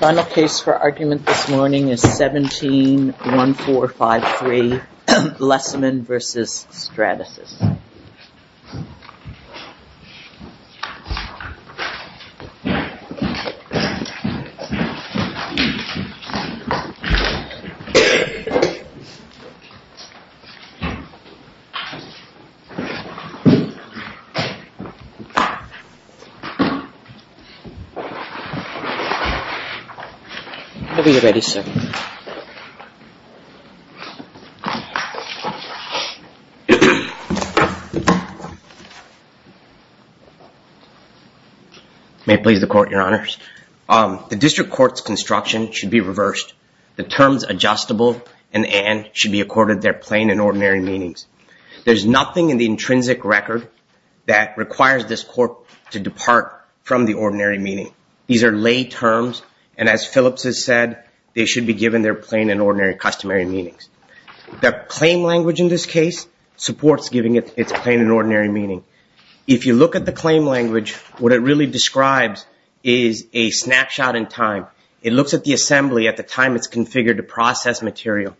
Final case for argument this morning is 17-1453 Lesseman v. Stratasys. May it please the Court, Your Honors. The District Court's construction should be reversed. The terms adjustable and and should be accorded their plain and ordinary meanings. There's this court to depart from the ordinary meaning. These are lay terms and as Phillips has said, they should be given their plain and ordinary customary meanings. The claim language in this case supports giving it its plain and ordinary meaning. If you look at the claim language, what it really describes is a snapshot in time. It looks at the assembly at the time it's configured to process material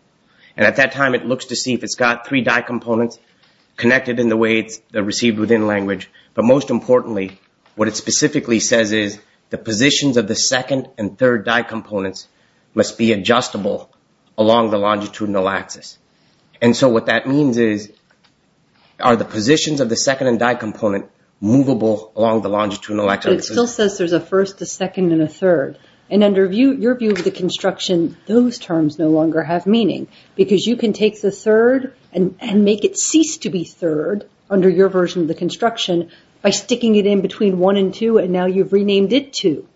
and at that time it looks to see if it's got three die components connected in the way it's received within language. But most importantly, what it specifically says is the positions of the second and third die components must be adjustable along the longitudinal axis. And so what that means is, are the positions of the second and die component movable along the longitudinal axis? But it still says there's a first, a second, and a third. And under your view of the construction, those terms no longer have meaning because you can take the third and make it cease to be third under your version of the construction by sticking it in between one and two and now you've renamed it two.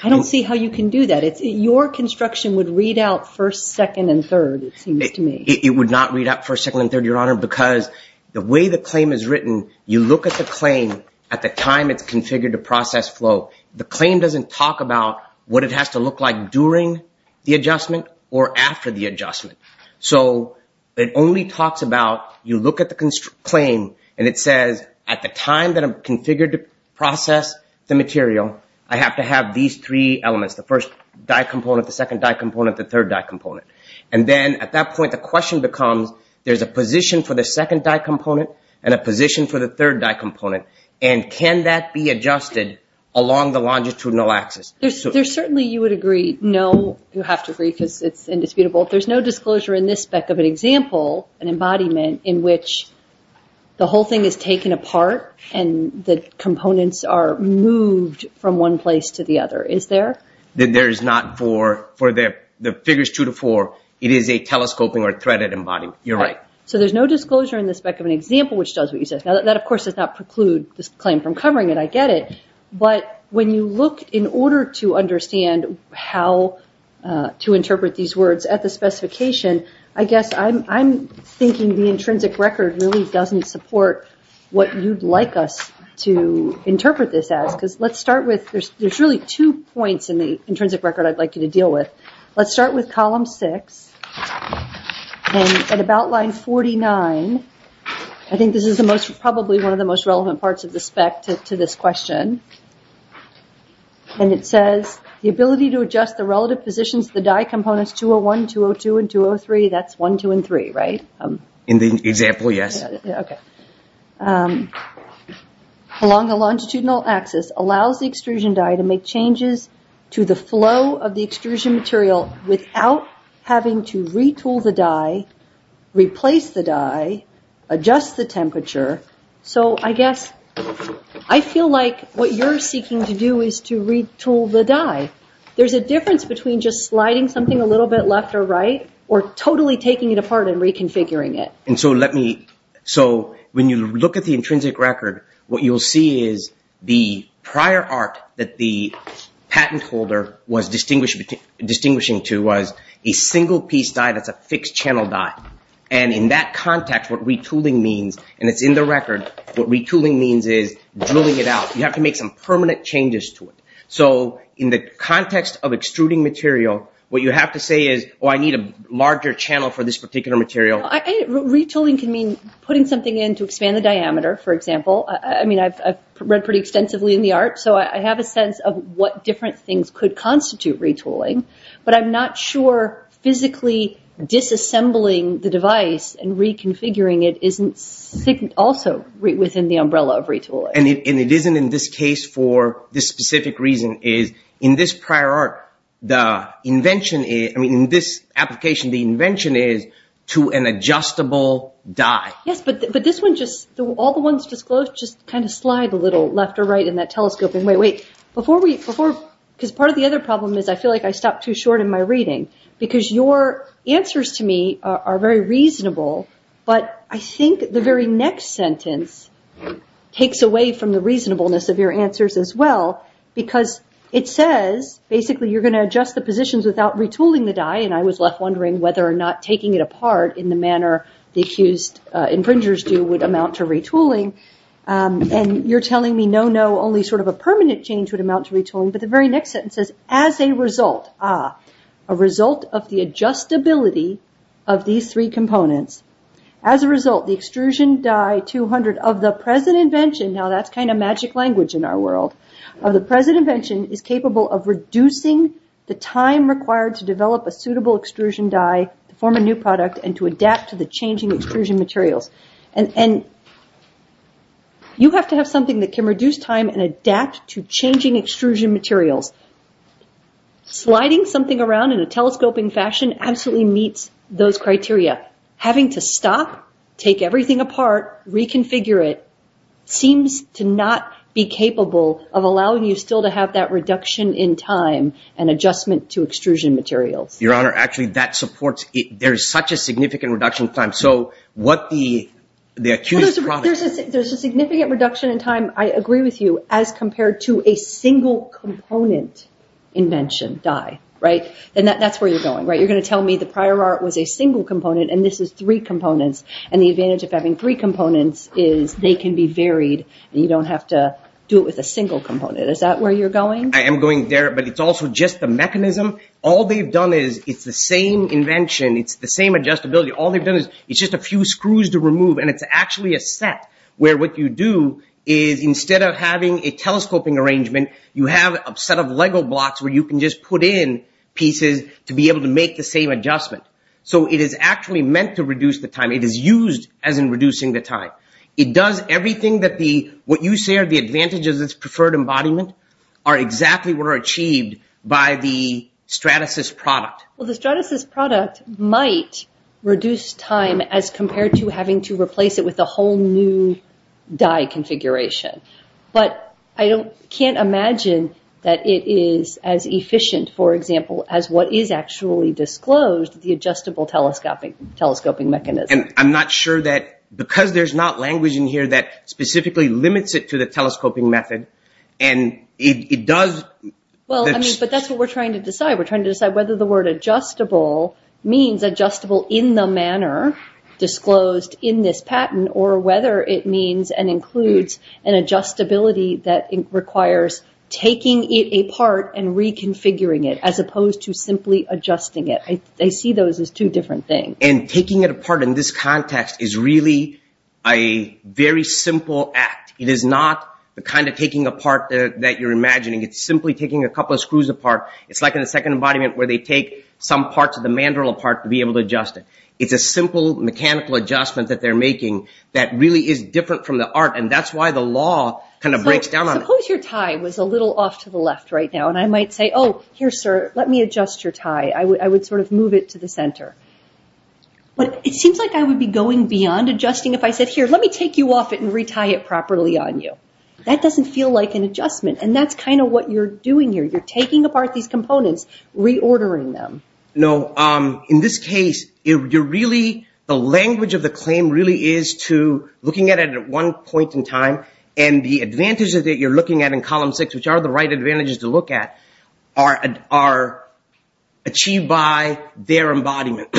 I don't see how you can do that. Your construction would read out first, second, and third, it seems to me. It would not read out first, second, and third, Your Honor, because the way the claim is written, you look at the claim at the time it's configured to process flow. The claim doesn't talk about what it has to look like during the adjustment or after the adjustment. So it only talks about, you look at the claim and it says, at the time that I'm configured to process the material, I have to have these three elements, the first die component, the second die component, the third die component. And then at that point, the question becomes, there's a position for the second die component and a position for the third die component. And can that be adjusted along the longitudinal axis? There's certainly, you would agree, no, you have to agree because it's indisputable. There's no disclosure in this spec of an example, an embodiment, in which the whole thing is taken apart and the components are moved from one place to the other. Is there? There is not for the figures two to four. It is a telescoping or threaded embodiment. You're right. So there's no disclosure in the spec of an example which does what you said. Now that of course does not preclude this claim from covering it. I get it. But when you look in order to understand how to interpret these words at the specification, I guess I'm thinking the intrinsic record really doesn't support what you'd like us to interpret this as. Because let's start with, there's really two points in the intrinsic record I'd like you to deal with. Let's start with column six. And at about line 49, I think this is the most, probably one of the most relevant parts of the spec to this question. And it says the ability to adjust the relative positions of the die components 201, 202, and 203. That's 1, 2, and 3, right? In the example, yes. Okay. Along the longitudinal axis allows the extrusion die to make changes to the flow of the extrusion material without having to retool the die, replace the die, adjust the temperature. So I guess I feel like what you're seeking to do is to retool the die. There's a difference between just sliding something a little bit left or right or totally taking it apart and reconfiguring it. And so let me, so when you look at the intrinsic record, what you'll see is the prior art that the patent holder was distinguishing to was a single piece die that's a fixed channel die. And in that context, what retooling means, and it's in the record, what retooling means is drilling it out. You have to make some permanent changes to it. So in the context of extruding material, what you have to say is, oh, I need a larger channel for this particular material. Retooling can mean putting something in to expand the diameter, for example. I mean, I've read pretty extensively in the art, so I have a sense of what different things could mean. But disassembling the device and reconfiguring it isn't also within the umbrella of retooling. And it isn't in this case for this specific reason is in this prior art, the invention is, I mean, in this application, the invention is to an adjustable die. Yes, but this one just, all the ones disclosed just kind of slide a little left or right in that telescope. And wait, wait, before we, because part of the other problem is I feel like I stopped too short in my reading, because your answers to me are very reasonable. But I think the very next sentence takes away from the reasonableness of your answers as well, because it says basically you're going to adjust the positions without retooling the die, and I was left wondering whether or not taking it apart in the manner the accused infringers do would amount to retooling. And you're telling me no, no, only sort of a permanent change would amount to retooling, but the very next sentence says, as a result, ah, a result of the adjustability of these three components, as a result, the extrusion die 200 of the present invention, now that's kind of magic language in our world, of the present invention is capable of reducing the time required to develop a suitable extrusion die to form a new product and to adapt to the changing extrusion materials. And you have to have something that can reduce time and adapt to changing extrusion materials. Sliding something around in a telescoping fashion absolutely meets those criteria. Having to stop, take everything apart, reconfigure it, seems to not be capable of allowing you still to have that reduction in time and adjustment to extrusion materials. Your Honor, actually, that supports it. There's such a significant reduction in time, so what the accused There's a significant reduction in time, I agree with you, as compared to a single component invention die, right? And that's where you're going, right? You're going to tell me the prior art was a single component, and this is three components, and the advantage of having three components is they can be varied, and you don't have to do it with a single component. Is that where you're going? I am going there, but it's also just the mechanism. All they've done is, it's the same invention. It's the same adjustability. All they've done is, it's just a few screws to remove, and it's actually a set where what you do is, instead of having a telescoping arrangement, you have a set of Lego blocks where you can just put in pieces to be able to make the same adjustment. So it is actually meant to reduce the time. It is used as in reducing the time. It does everything that the, what you say are the advantages of this preferred embodiment are exactly what are achieved by the Stratasys product. Well, the Stratasys product might reduce time as compared to having to replace it with a whole new die configuration, but I can't imagine that it is as efficient, for example, as what is actually disclosed, the adjustable telescoping mechanism. And I'm not sure that, because there's not language in here that specifically limits it to the telescoping method, and it does... Well, I mean, but that's what we're trying to decide. We're trying to decide whether the word adjustable means adjustable in the manner disclosed in this patent, or whether it means and includes an adjustability that requires taking it apart and reconfiguring it, as opposed to simply adjusting it. I see those as two different things. And taking it apart in this context is really a very simple act. It is not the kind of taking apart that you're imagining. It's simply taking a couple of screws apart. It's like in the second embodiment where they take some parts of the mandrel apart to be able to adjust it. It's a simple mechanical adjustment that they're making that really is different from the art, and that's why the law kind of breaks down on it. Suppose your tie was a little off to the left right now, and I might say, Oh, here, sir, let me adjust your tie. I would sort of move it to the center. But it seems like I would be going beyond adjusting if I said, Here, let me take you off it and retie it properly on you. That doesn't feel like an adjustment, and that's kind of what you're doing here. You're taking apart these components, reordering them. No. In this case, the language of the claim really is to looking at it at one point in time, and the advantages that you're looking at in column six, which are the right advantages to look at, are achieved by their embodiment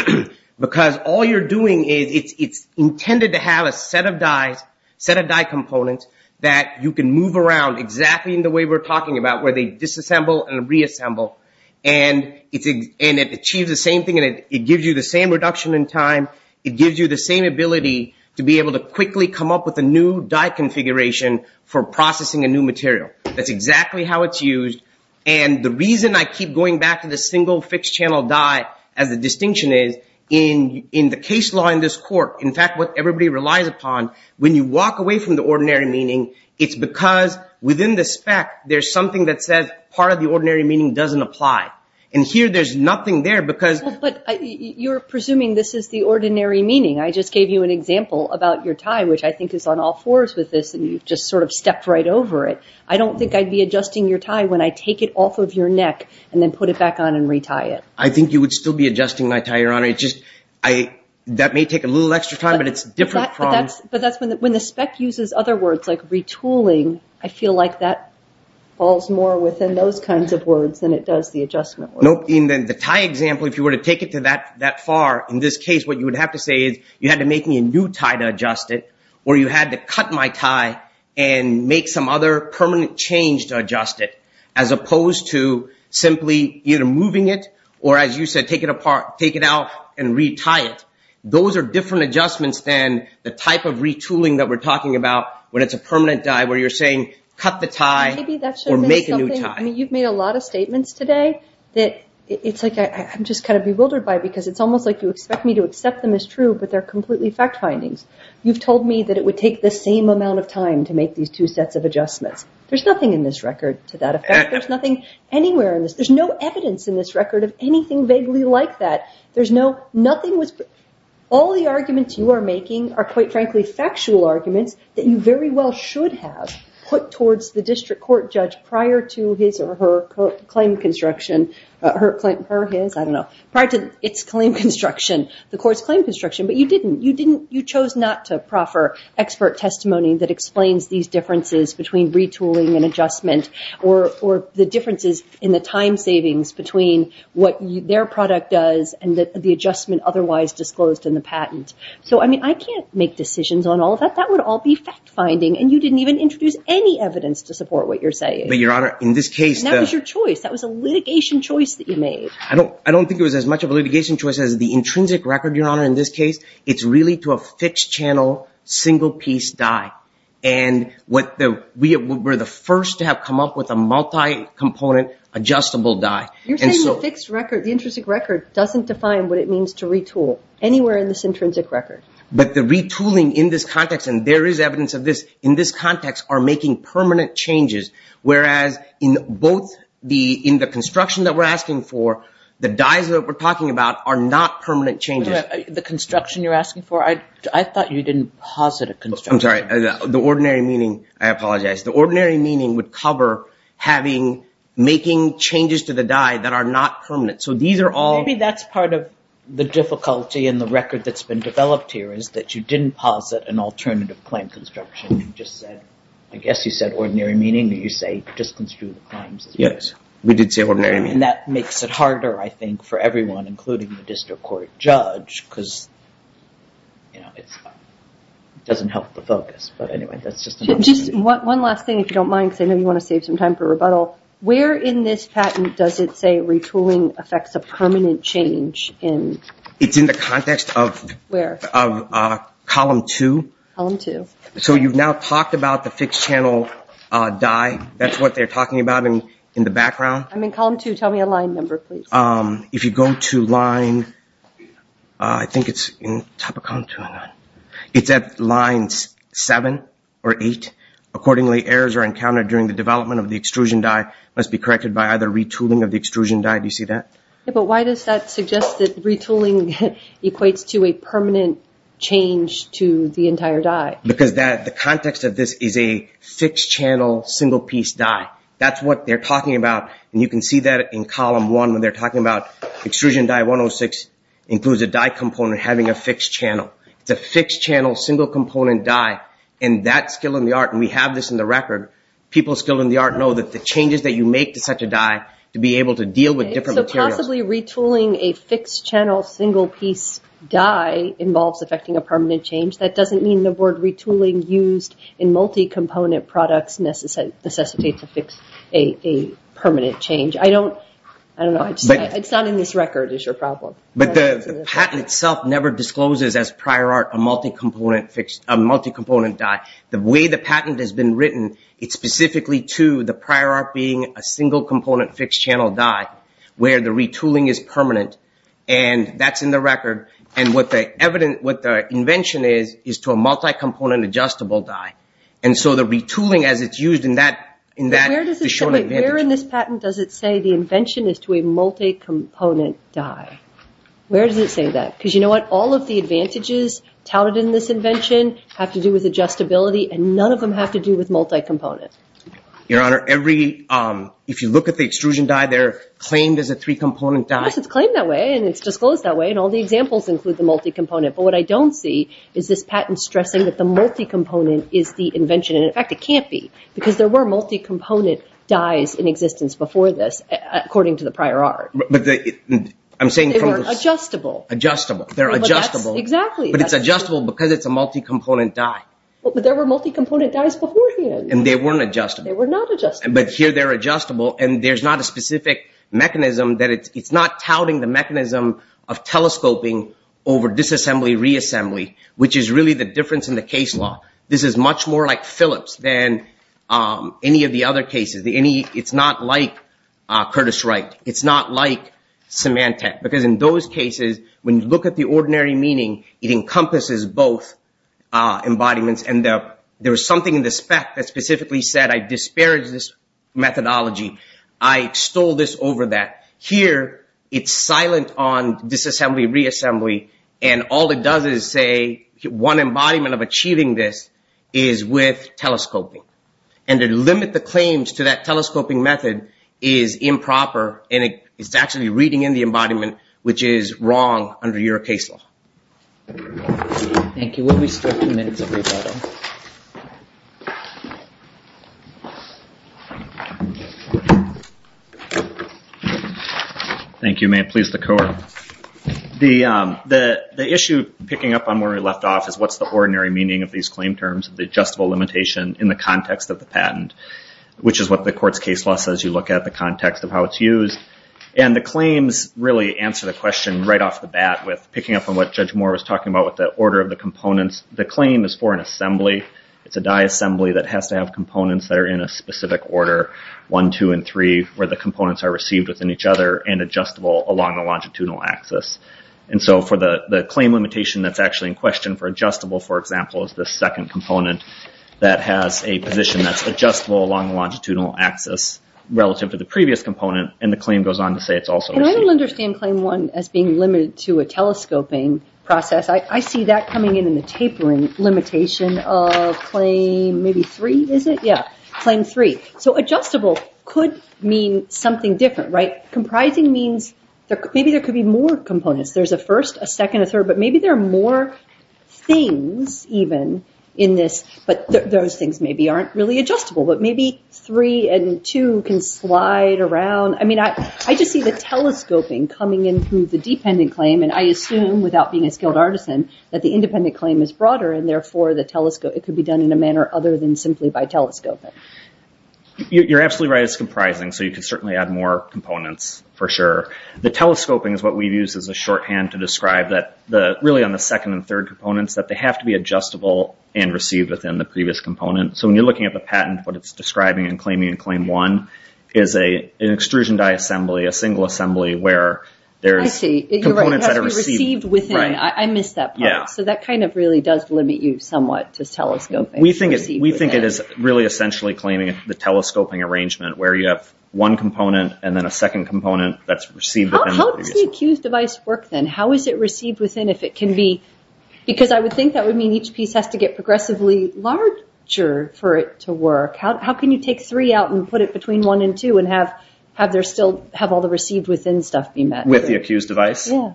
because all you're doing is it's intended to have a set of dies, set of die components that you can move around exactly in the way we're talking about where they disassemble and reassemble, and it achieves the same thing, and it gives you the same reduction in time. It gives you the same ability to be able to quickly come up with a new die configuration for processing a new material. That's exactly how it's used, and the reason I keep going back to the single fixed channel die, as the distinction is, in the case law in this court, in fact, what everybody relies upon, when you walk away from the ordinary meaning, it's because within the spec, there's something that says part of the ordinary meaning doesn't apply. And here, there's nothing there because— But you're presuming this is the ordinary meaning. I just gave you an example about your tie, which I think is on all fours with this, and you've just sort of stepped right over it. I don't think I'd be adjusting your tie when I take it off of your neck and then put it back on and retie it. I think you would still be adjusting my tie, Your Honor. It's just that may take a little extra time, but it's different from— But that's when the spec uses other words like retooling. I feel like that falls more within those kinds of words than it does the adjustment words. In the tie example, if you were to take it to that far, in this case, what you would have to say is you had to make me a new tie to adjust it, or you had to cut my tie and make some other permanent change to adjust it, as opposed to simply either moving it or, as you said, take it out and retie it. Those are different adjustments than the type of retooling that we're talking about when it's a permanent die where you're saying cut the tie or make a new tie. I mean, you've made a lot of statements today that it's like I'm just kind of bewildered by because it's almost like you expect me to accept them as true, but they're completely fact findings. You've told me that it would take the same amount of time to make these two sets of adjustments. There's nothing in this record to that effect. There's nothing anywhere in this. There's no evidence in this record of anything vaguely like that. There's no—nothing was— All the arguments you are making are, quite frankly, factual arguments that you very well should have put towards the district court judge prior to his or her claim construction— her claim—her, his, I don't know. Prior to its claim construction, the court's claim construction, but you didn't. You didn't—you chose not to proffer expert testimony that explains these differences between retooling and adjustment or the differences in the time savings between what their product does and the adjustment otherwise disclosed in the patent. So, I mean, I can't make decisions on all of that. That would all be fact finding, and you didn't even introduce any evidence to support what you're saying. But, Your Honor, in this case— And that was your choice. That was a litigation choice that you made. I don't—I don't think it was as much of a litigation choice as the intrinsic record, Your Honor, in this case. It's really to a fixed-channel, single-piece die. And what the—we're the first to have come up with a multi-component adjustable die. You're saying the fixed record—the intrinsic record doesn't define what it means to retool anywhere in this intrinsic record. But the retooling in this context, and there is evidence of this in this context, are making permanent changes, whereas in both the—in the construction that we're asking for, the dies that we're talking about are not permanent changes. The construction you're asking for? I thought you didn't posit a construction. I'm sorry. The ordinary meaning—I apologize. The ordinary meaning would cover having—making changes to the die that are not permanent. So these are all— Well, maybe that's part of the difficulty in the record that's been developed here, is that you didn't posit an alternative claim construction. You just said—I guess you said ordinary meaning, or you say just construe the claims. Yes. We did say ordinary meaning. And that makes it harder, I think, for everyone, including the district court judge, because, you know, it's—it doesn't help the focus. But anyway, that's just an opportunity. Just one last thing, if you don't mind, because I know you want to save some time for rebuttal. Where in this patent does it say retooling affects a permanent change? It's in the context of— Where? Column 2. Column 2. So you've now talked about the fixed-channel die. That's what they're talking about in the background. I'm in column 2. Tell me a line number, please. If you go to line—I think it's in top of column 2. It's at line 7 or 8. Accordingly, errors are encountered during the development of the extrusion die, must be corrected by either retooling of the extrusion die. Do you see that? Yeah, but why does that suggest that retooling equates to a permanent change to the entire die? Because the context of this is a fixed-channel, single-piece die. That's what they're talking about. And you can see that in column 1 when they're talking about extrusion die 106 includes a die component having a fixed channel. It's a fixed-channel, single-component die. And that's still in the art, and we have this in the record. People still in the art know that the changes that you make to such a die to be able to deal with different materials. So possibly retooling a fixed-channel, single-piece die involves affecting a permanent change. That doesn't mean the word retooling used in multi-component products necessitates a permanent change. I don't know. It's not in this record is your problem. But the patent itself never discloses as prior art a multi-component die. The way the patent has been written, it's specifically to the prior art being a single-component fixed-channel die where the retooling is permanent, and that's in the record. And what the invention is is to a multi-component adjustable die. And so the retooling as it's used in that is shown advantage. Where in this patent does it say the invention is to a multi-component die? Where does it say that? Because you know what? All of the advantages touted in this invention have to do with adjustability, and none of them have to do with multi-component. Your Honor, if you look at the extrusion die, they're claimed as a three-component die. Yes, it's claimed that way, and it's disclosed that way, and all the examples include the multi-component. But what I don't see is this patent stressing that the multi-component is the invention. And, in fact, it can't be because there were multi-component dies in existence before this, according to the prior art. I'm saying from this. They weren't adjustable. Adjustable. They're adjustable. Exactly. But it's adjustable because it's a multi-component die. But there were multi-component dies beforehand. And they weren't adjustable. They were not adjustable. But here they're adjustable, and there's not a specific mechanism that it's not touting the mechanism of telescoping over disassembly, reassembly, which is really the difference in the case law. This is much more like Phillips than any of the other cases. It's not like Curtis Wright. It's not like Symantec because, in those cases, when you look at the ordinary meaning, it encompasses both embodiments. And there was something in the spec that specifically said, I disparage this methodology. I extol this over that. Here it's silent on disassembly, reassembly, and all it does is say one embodiment of achieving this is with telescoping. And to limit the claims to that telescoping method is improper, and it's actually reading in the embodiment, which is wrong under your case law. Thank you. We'll be still two minutes, everybody. Thank you. May it please the court. The issue picking up on where we left off is what's the ordinary meaning of these claim terms, the adjustable limitation in the context of the patent, which is what the court's case law says you look at the context of how it's used. And the claims really answer the question right off the bat with picking up on what Judge Moore was talking about with the order of the components. The claim is for an assembly. It's a disassembly that has to have components that are in a specific order, one, two, and three, where the components are received within each other and adjustable along the longitudinal axis. And so for the claim limitation that's actually in question for adjustable, for example, is the second component that has a position that's adjustable along the longitudinal axis relative to the previous component, and the claim goes on to say it's also received. And I don't understand claim one as being limited to a telescoping process. I see that coming in in the tapering limitation of claim maybe three, is it? Yeah, claim three. So adjustable could mean something different, right? Comprising means maybe there could be more components. There's a first, a second, a third, but maybe there are more things even in this, but those things maybe aren't really adjustable, but maybe three and two can slide around. I mean, I just see the telescoping coming in through the dependent claim, and I assume without being a skilled artisan that the independent claim is broader, and therefore it could be done in a manner other than simply by telescoping. You're absolutely right. It's comprising, so you could certainly add more components for sure. The telescoping is what we've used as a shorthand to describe that really on the second and third components that they have to be adjustable and received within the previous component. So when you're looking at the patent, what it's describing in claiming and claim one is an extrusion die assembly, a single assembly where there's components that are received. I see. You're right. It has to be received within. I missed that part. So that kind of really does limit you somewhat to telescoping. We think it is really essentially claiming the telescoping arrangement where you have one component and then a second component that's received within. How does the accused device work then? How is it received within if it can be? Because I would think that would mean each piece has to get progressively larger for it to work. How can you take three out and put it between one and two and have all the received within stuff be met? With the accused device? Yeah.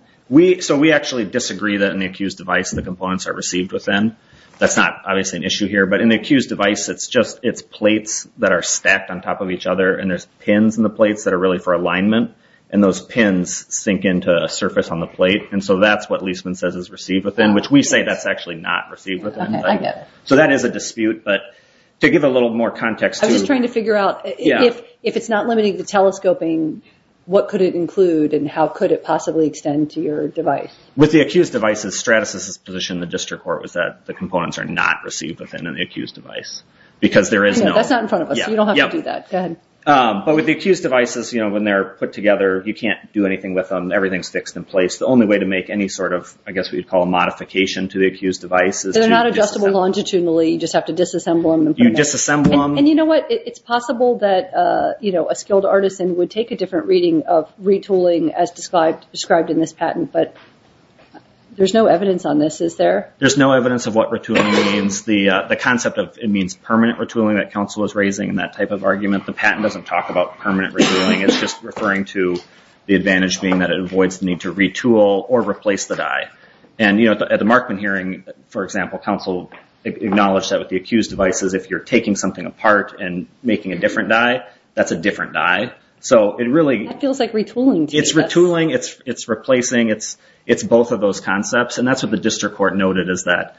So we actually disagree that in the accused device the components are received within. That's not obviously an issue here, but in the accused device it's plates that are stacked on top of each other and there's pins in the plates that are really for alignment, and those pins sink into a surface on the plate. And so that's what Leisman says is received within, which we say that's actually not received within. Okay. I get it. So that is a dispute, but to give a little more context to it. I was just trying to figure out if it's not limiting to telescoping, what could it include and how could it possibly extend to your device? With the accused devices, Stratasys' position in the district court was that the components are not received within an accused device. That's not in front of us, so you don't have to do that. Go ahead. But with the accused devices, when they're put together, you can't do anything with them. Everything's fixed in place. The only way to make any sort of, I guess we'd call a modification to the accused device is to disassemble them. They're not adjustable longitudinally. You just have to disassemble them. You disassemble them. And you know what? It's possible that a skilled artisan would take a different reading of retooling as described in this patent, but there's no evidence on this, is there? There's no evidence of what retooling means. The concept of it means permanent retooling that counsel was raising and that type of argument. The patent doesn't talk about permanent retooling. It's just referring to the advantage being that it avoids the need to retool or replace the die. And, you know, at the Markman hearing, for example, counsel acknowledged that with the accused devices, if you're taking something apart and making a different die, that's a different die. That feels like retooling to me. It's retooling. It's replacing. It's both of those concepts. And that's what the district court noted is that,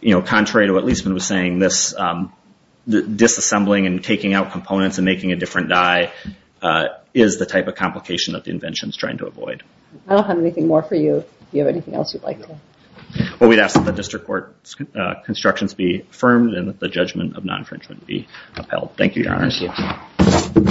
you know, contrary to what Liesman was saying, this disassembling and taking out components and making a different die is the type of complication that the invention is trying to avoid. I don't have anything more for you. Do you have anything else you'd like to add? Well, we'd ask that the district court's constructions be affirmed and that the judgment of non-infringement be upheld. Thank you, Your Honor. Thank you.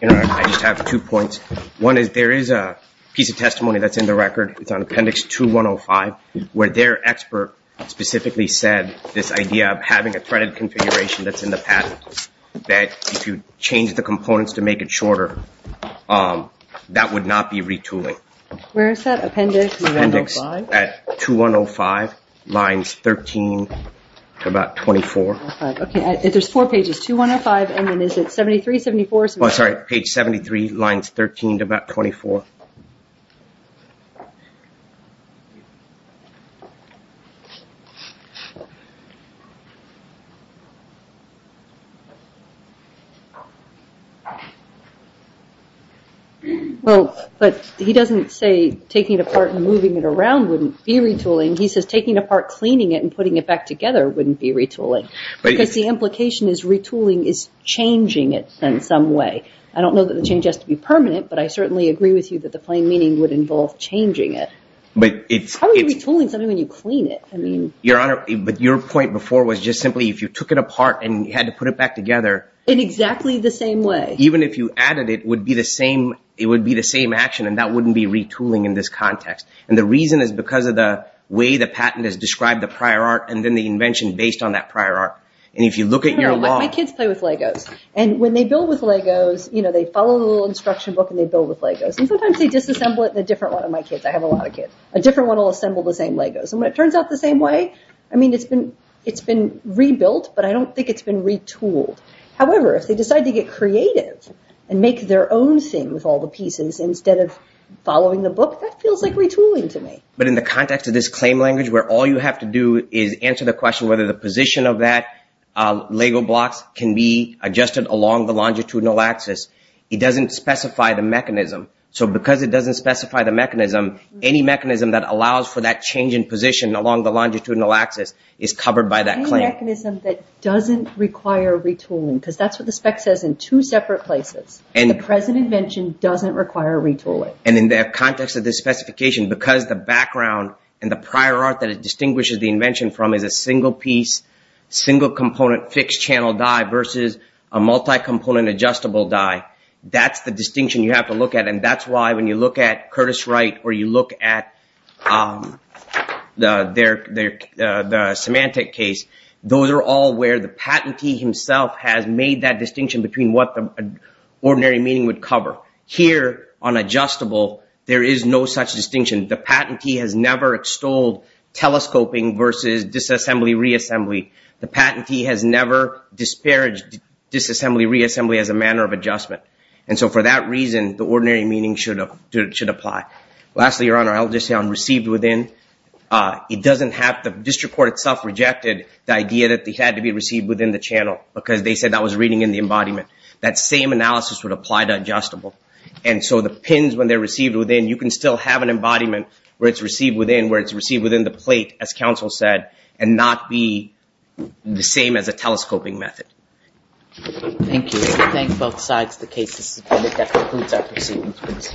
Your Honor, I just have two points. One is there is a piece of testimony that's in the record. It's on Appendix 2105 where their expert specifically said this idea of having a threaded configuration that's in the patent, that if you change the components to make it shorter, that would not be retooling. Where is that, Appendix 2105? Appendix 2105, lines 13 to about 24. Okay, there's four pages, 2105, and then is it 73, 74? Oh, sorry, page 73, lines 13 to about 24. Well, but he doesn't say taking it apart and moving it around wouldn't be retooling. He says taking it apart, cleaning it, and putting it back together wouldn't be retooling because the implication is retooling is changing it in some way. I don't know that the change has to be permanent, but I certainly agree with you that the plain meaning would involve changing it. How would you be retooling something when you clean it? Your Honor, but your point before was just simply if you took it apart and you had to put it back together. In exactly the same way. Even if you added it, it would be the same action, and that wouldn't be retooling in this context. And the reason is because of the way the patent has described the prior art and then the invention based on that prior art. And if you look at your law. My kids play with Legos, and when they build with Legos, they follow the little instruction book and they build with Legos. And sometimes they disassemble it in a different one of my kids. I have a lot of kids. A different one will assemble the same Legos. And when it turns out the same way, I mean, it's been rebuilt, but I don't think it's been retooled. However, if they decide to get creative and make their own thing with all the pieces instead of following the book, that feels like retooling to me. But in the context of this claim language where all you have to do is answer the question whether the position of that Lego blocks can be adjusted along the longitudinal axis, it doesn't specify the mechanism. So because it doesn't specify the mechanism, any mechanism that allows for that change in position along the longitudinal axis is covered by that claim. Any mechanism that doesn't require retooling, because that's what the spec says in two separate places. The present invention doesn't require retooling. And in the context of this specification, because the background and the prior art that it distinguishes the invention from is a single piece, single component fixed channel die versus a multi-component adjustable die, that's the distinction you have to look at. And that's why when you look at Curtis Wright or you look at the Symantec case, those are all where the patentee himself has made that distinction between what the ordinary meaning would cover. Here on adjustable, there is no such distinction. The patentee has never extolled telescoping versus disassembly, reassembly. The patentee has never disparaged disassembly, reassembly as a manner of adjustment. And so for that reason, the ordinary meaning should apply. Lastly, Your Honor, I'll just say on received within, the district court itself rejected the idea that it had to be received within the channel, because they said that was reading in the embodiment. That same analysis would apply to adjustable. And so the pins, when they're received within, you can still have an embodiment where it's received within, where it's received within the plate, as counsel said, and not be the same as a telescoping method. Thank you. I thank both sides of the case. This is a comment that concludes our proceedings for this morning. All rise.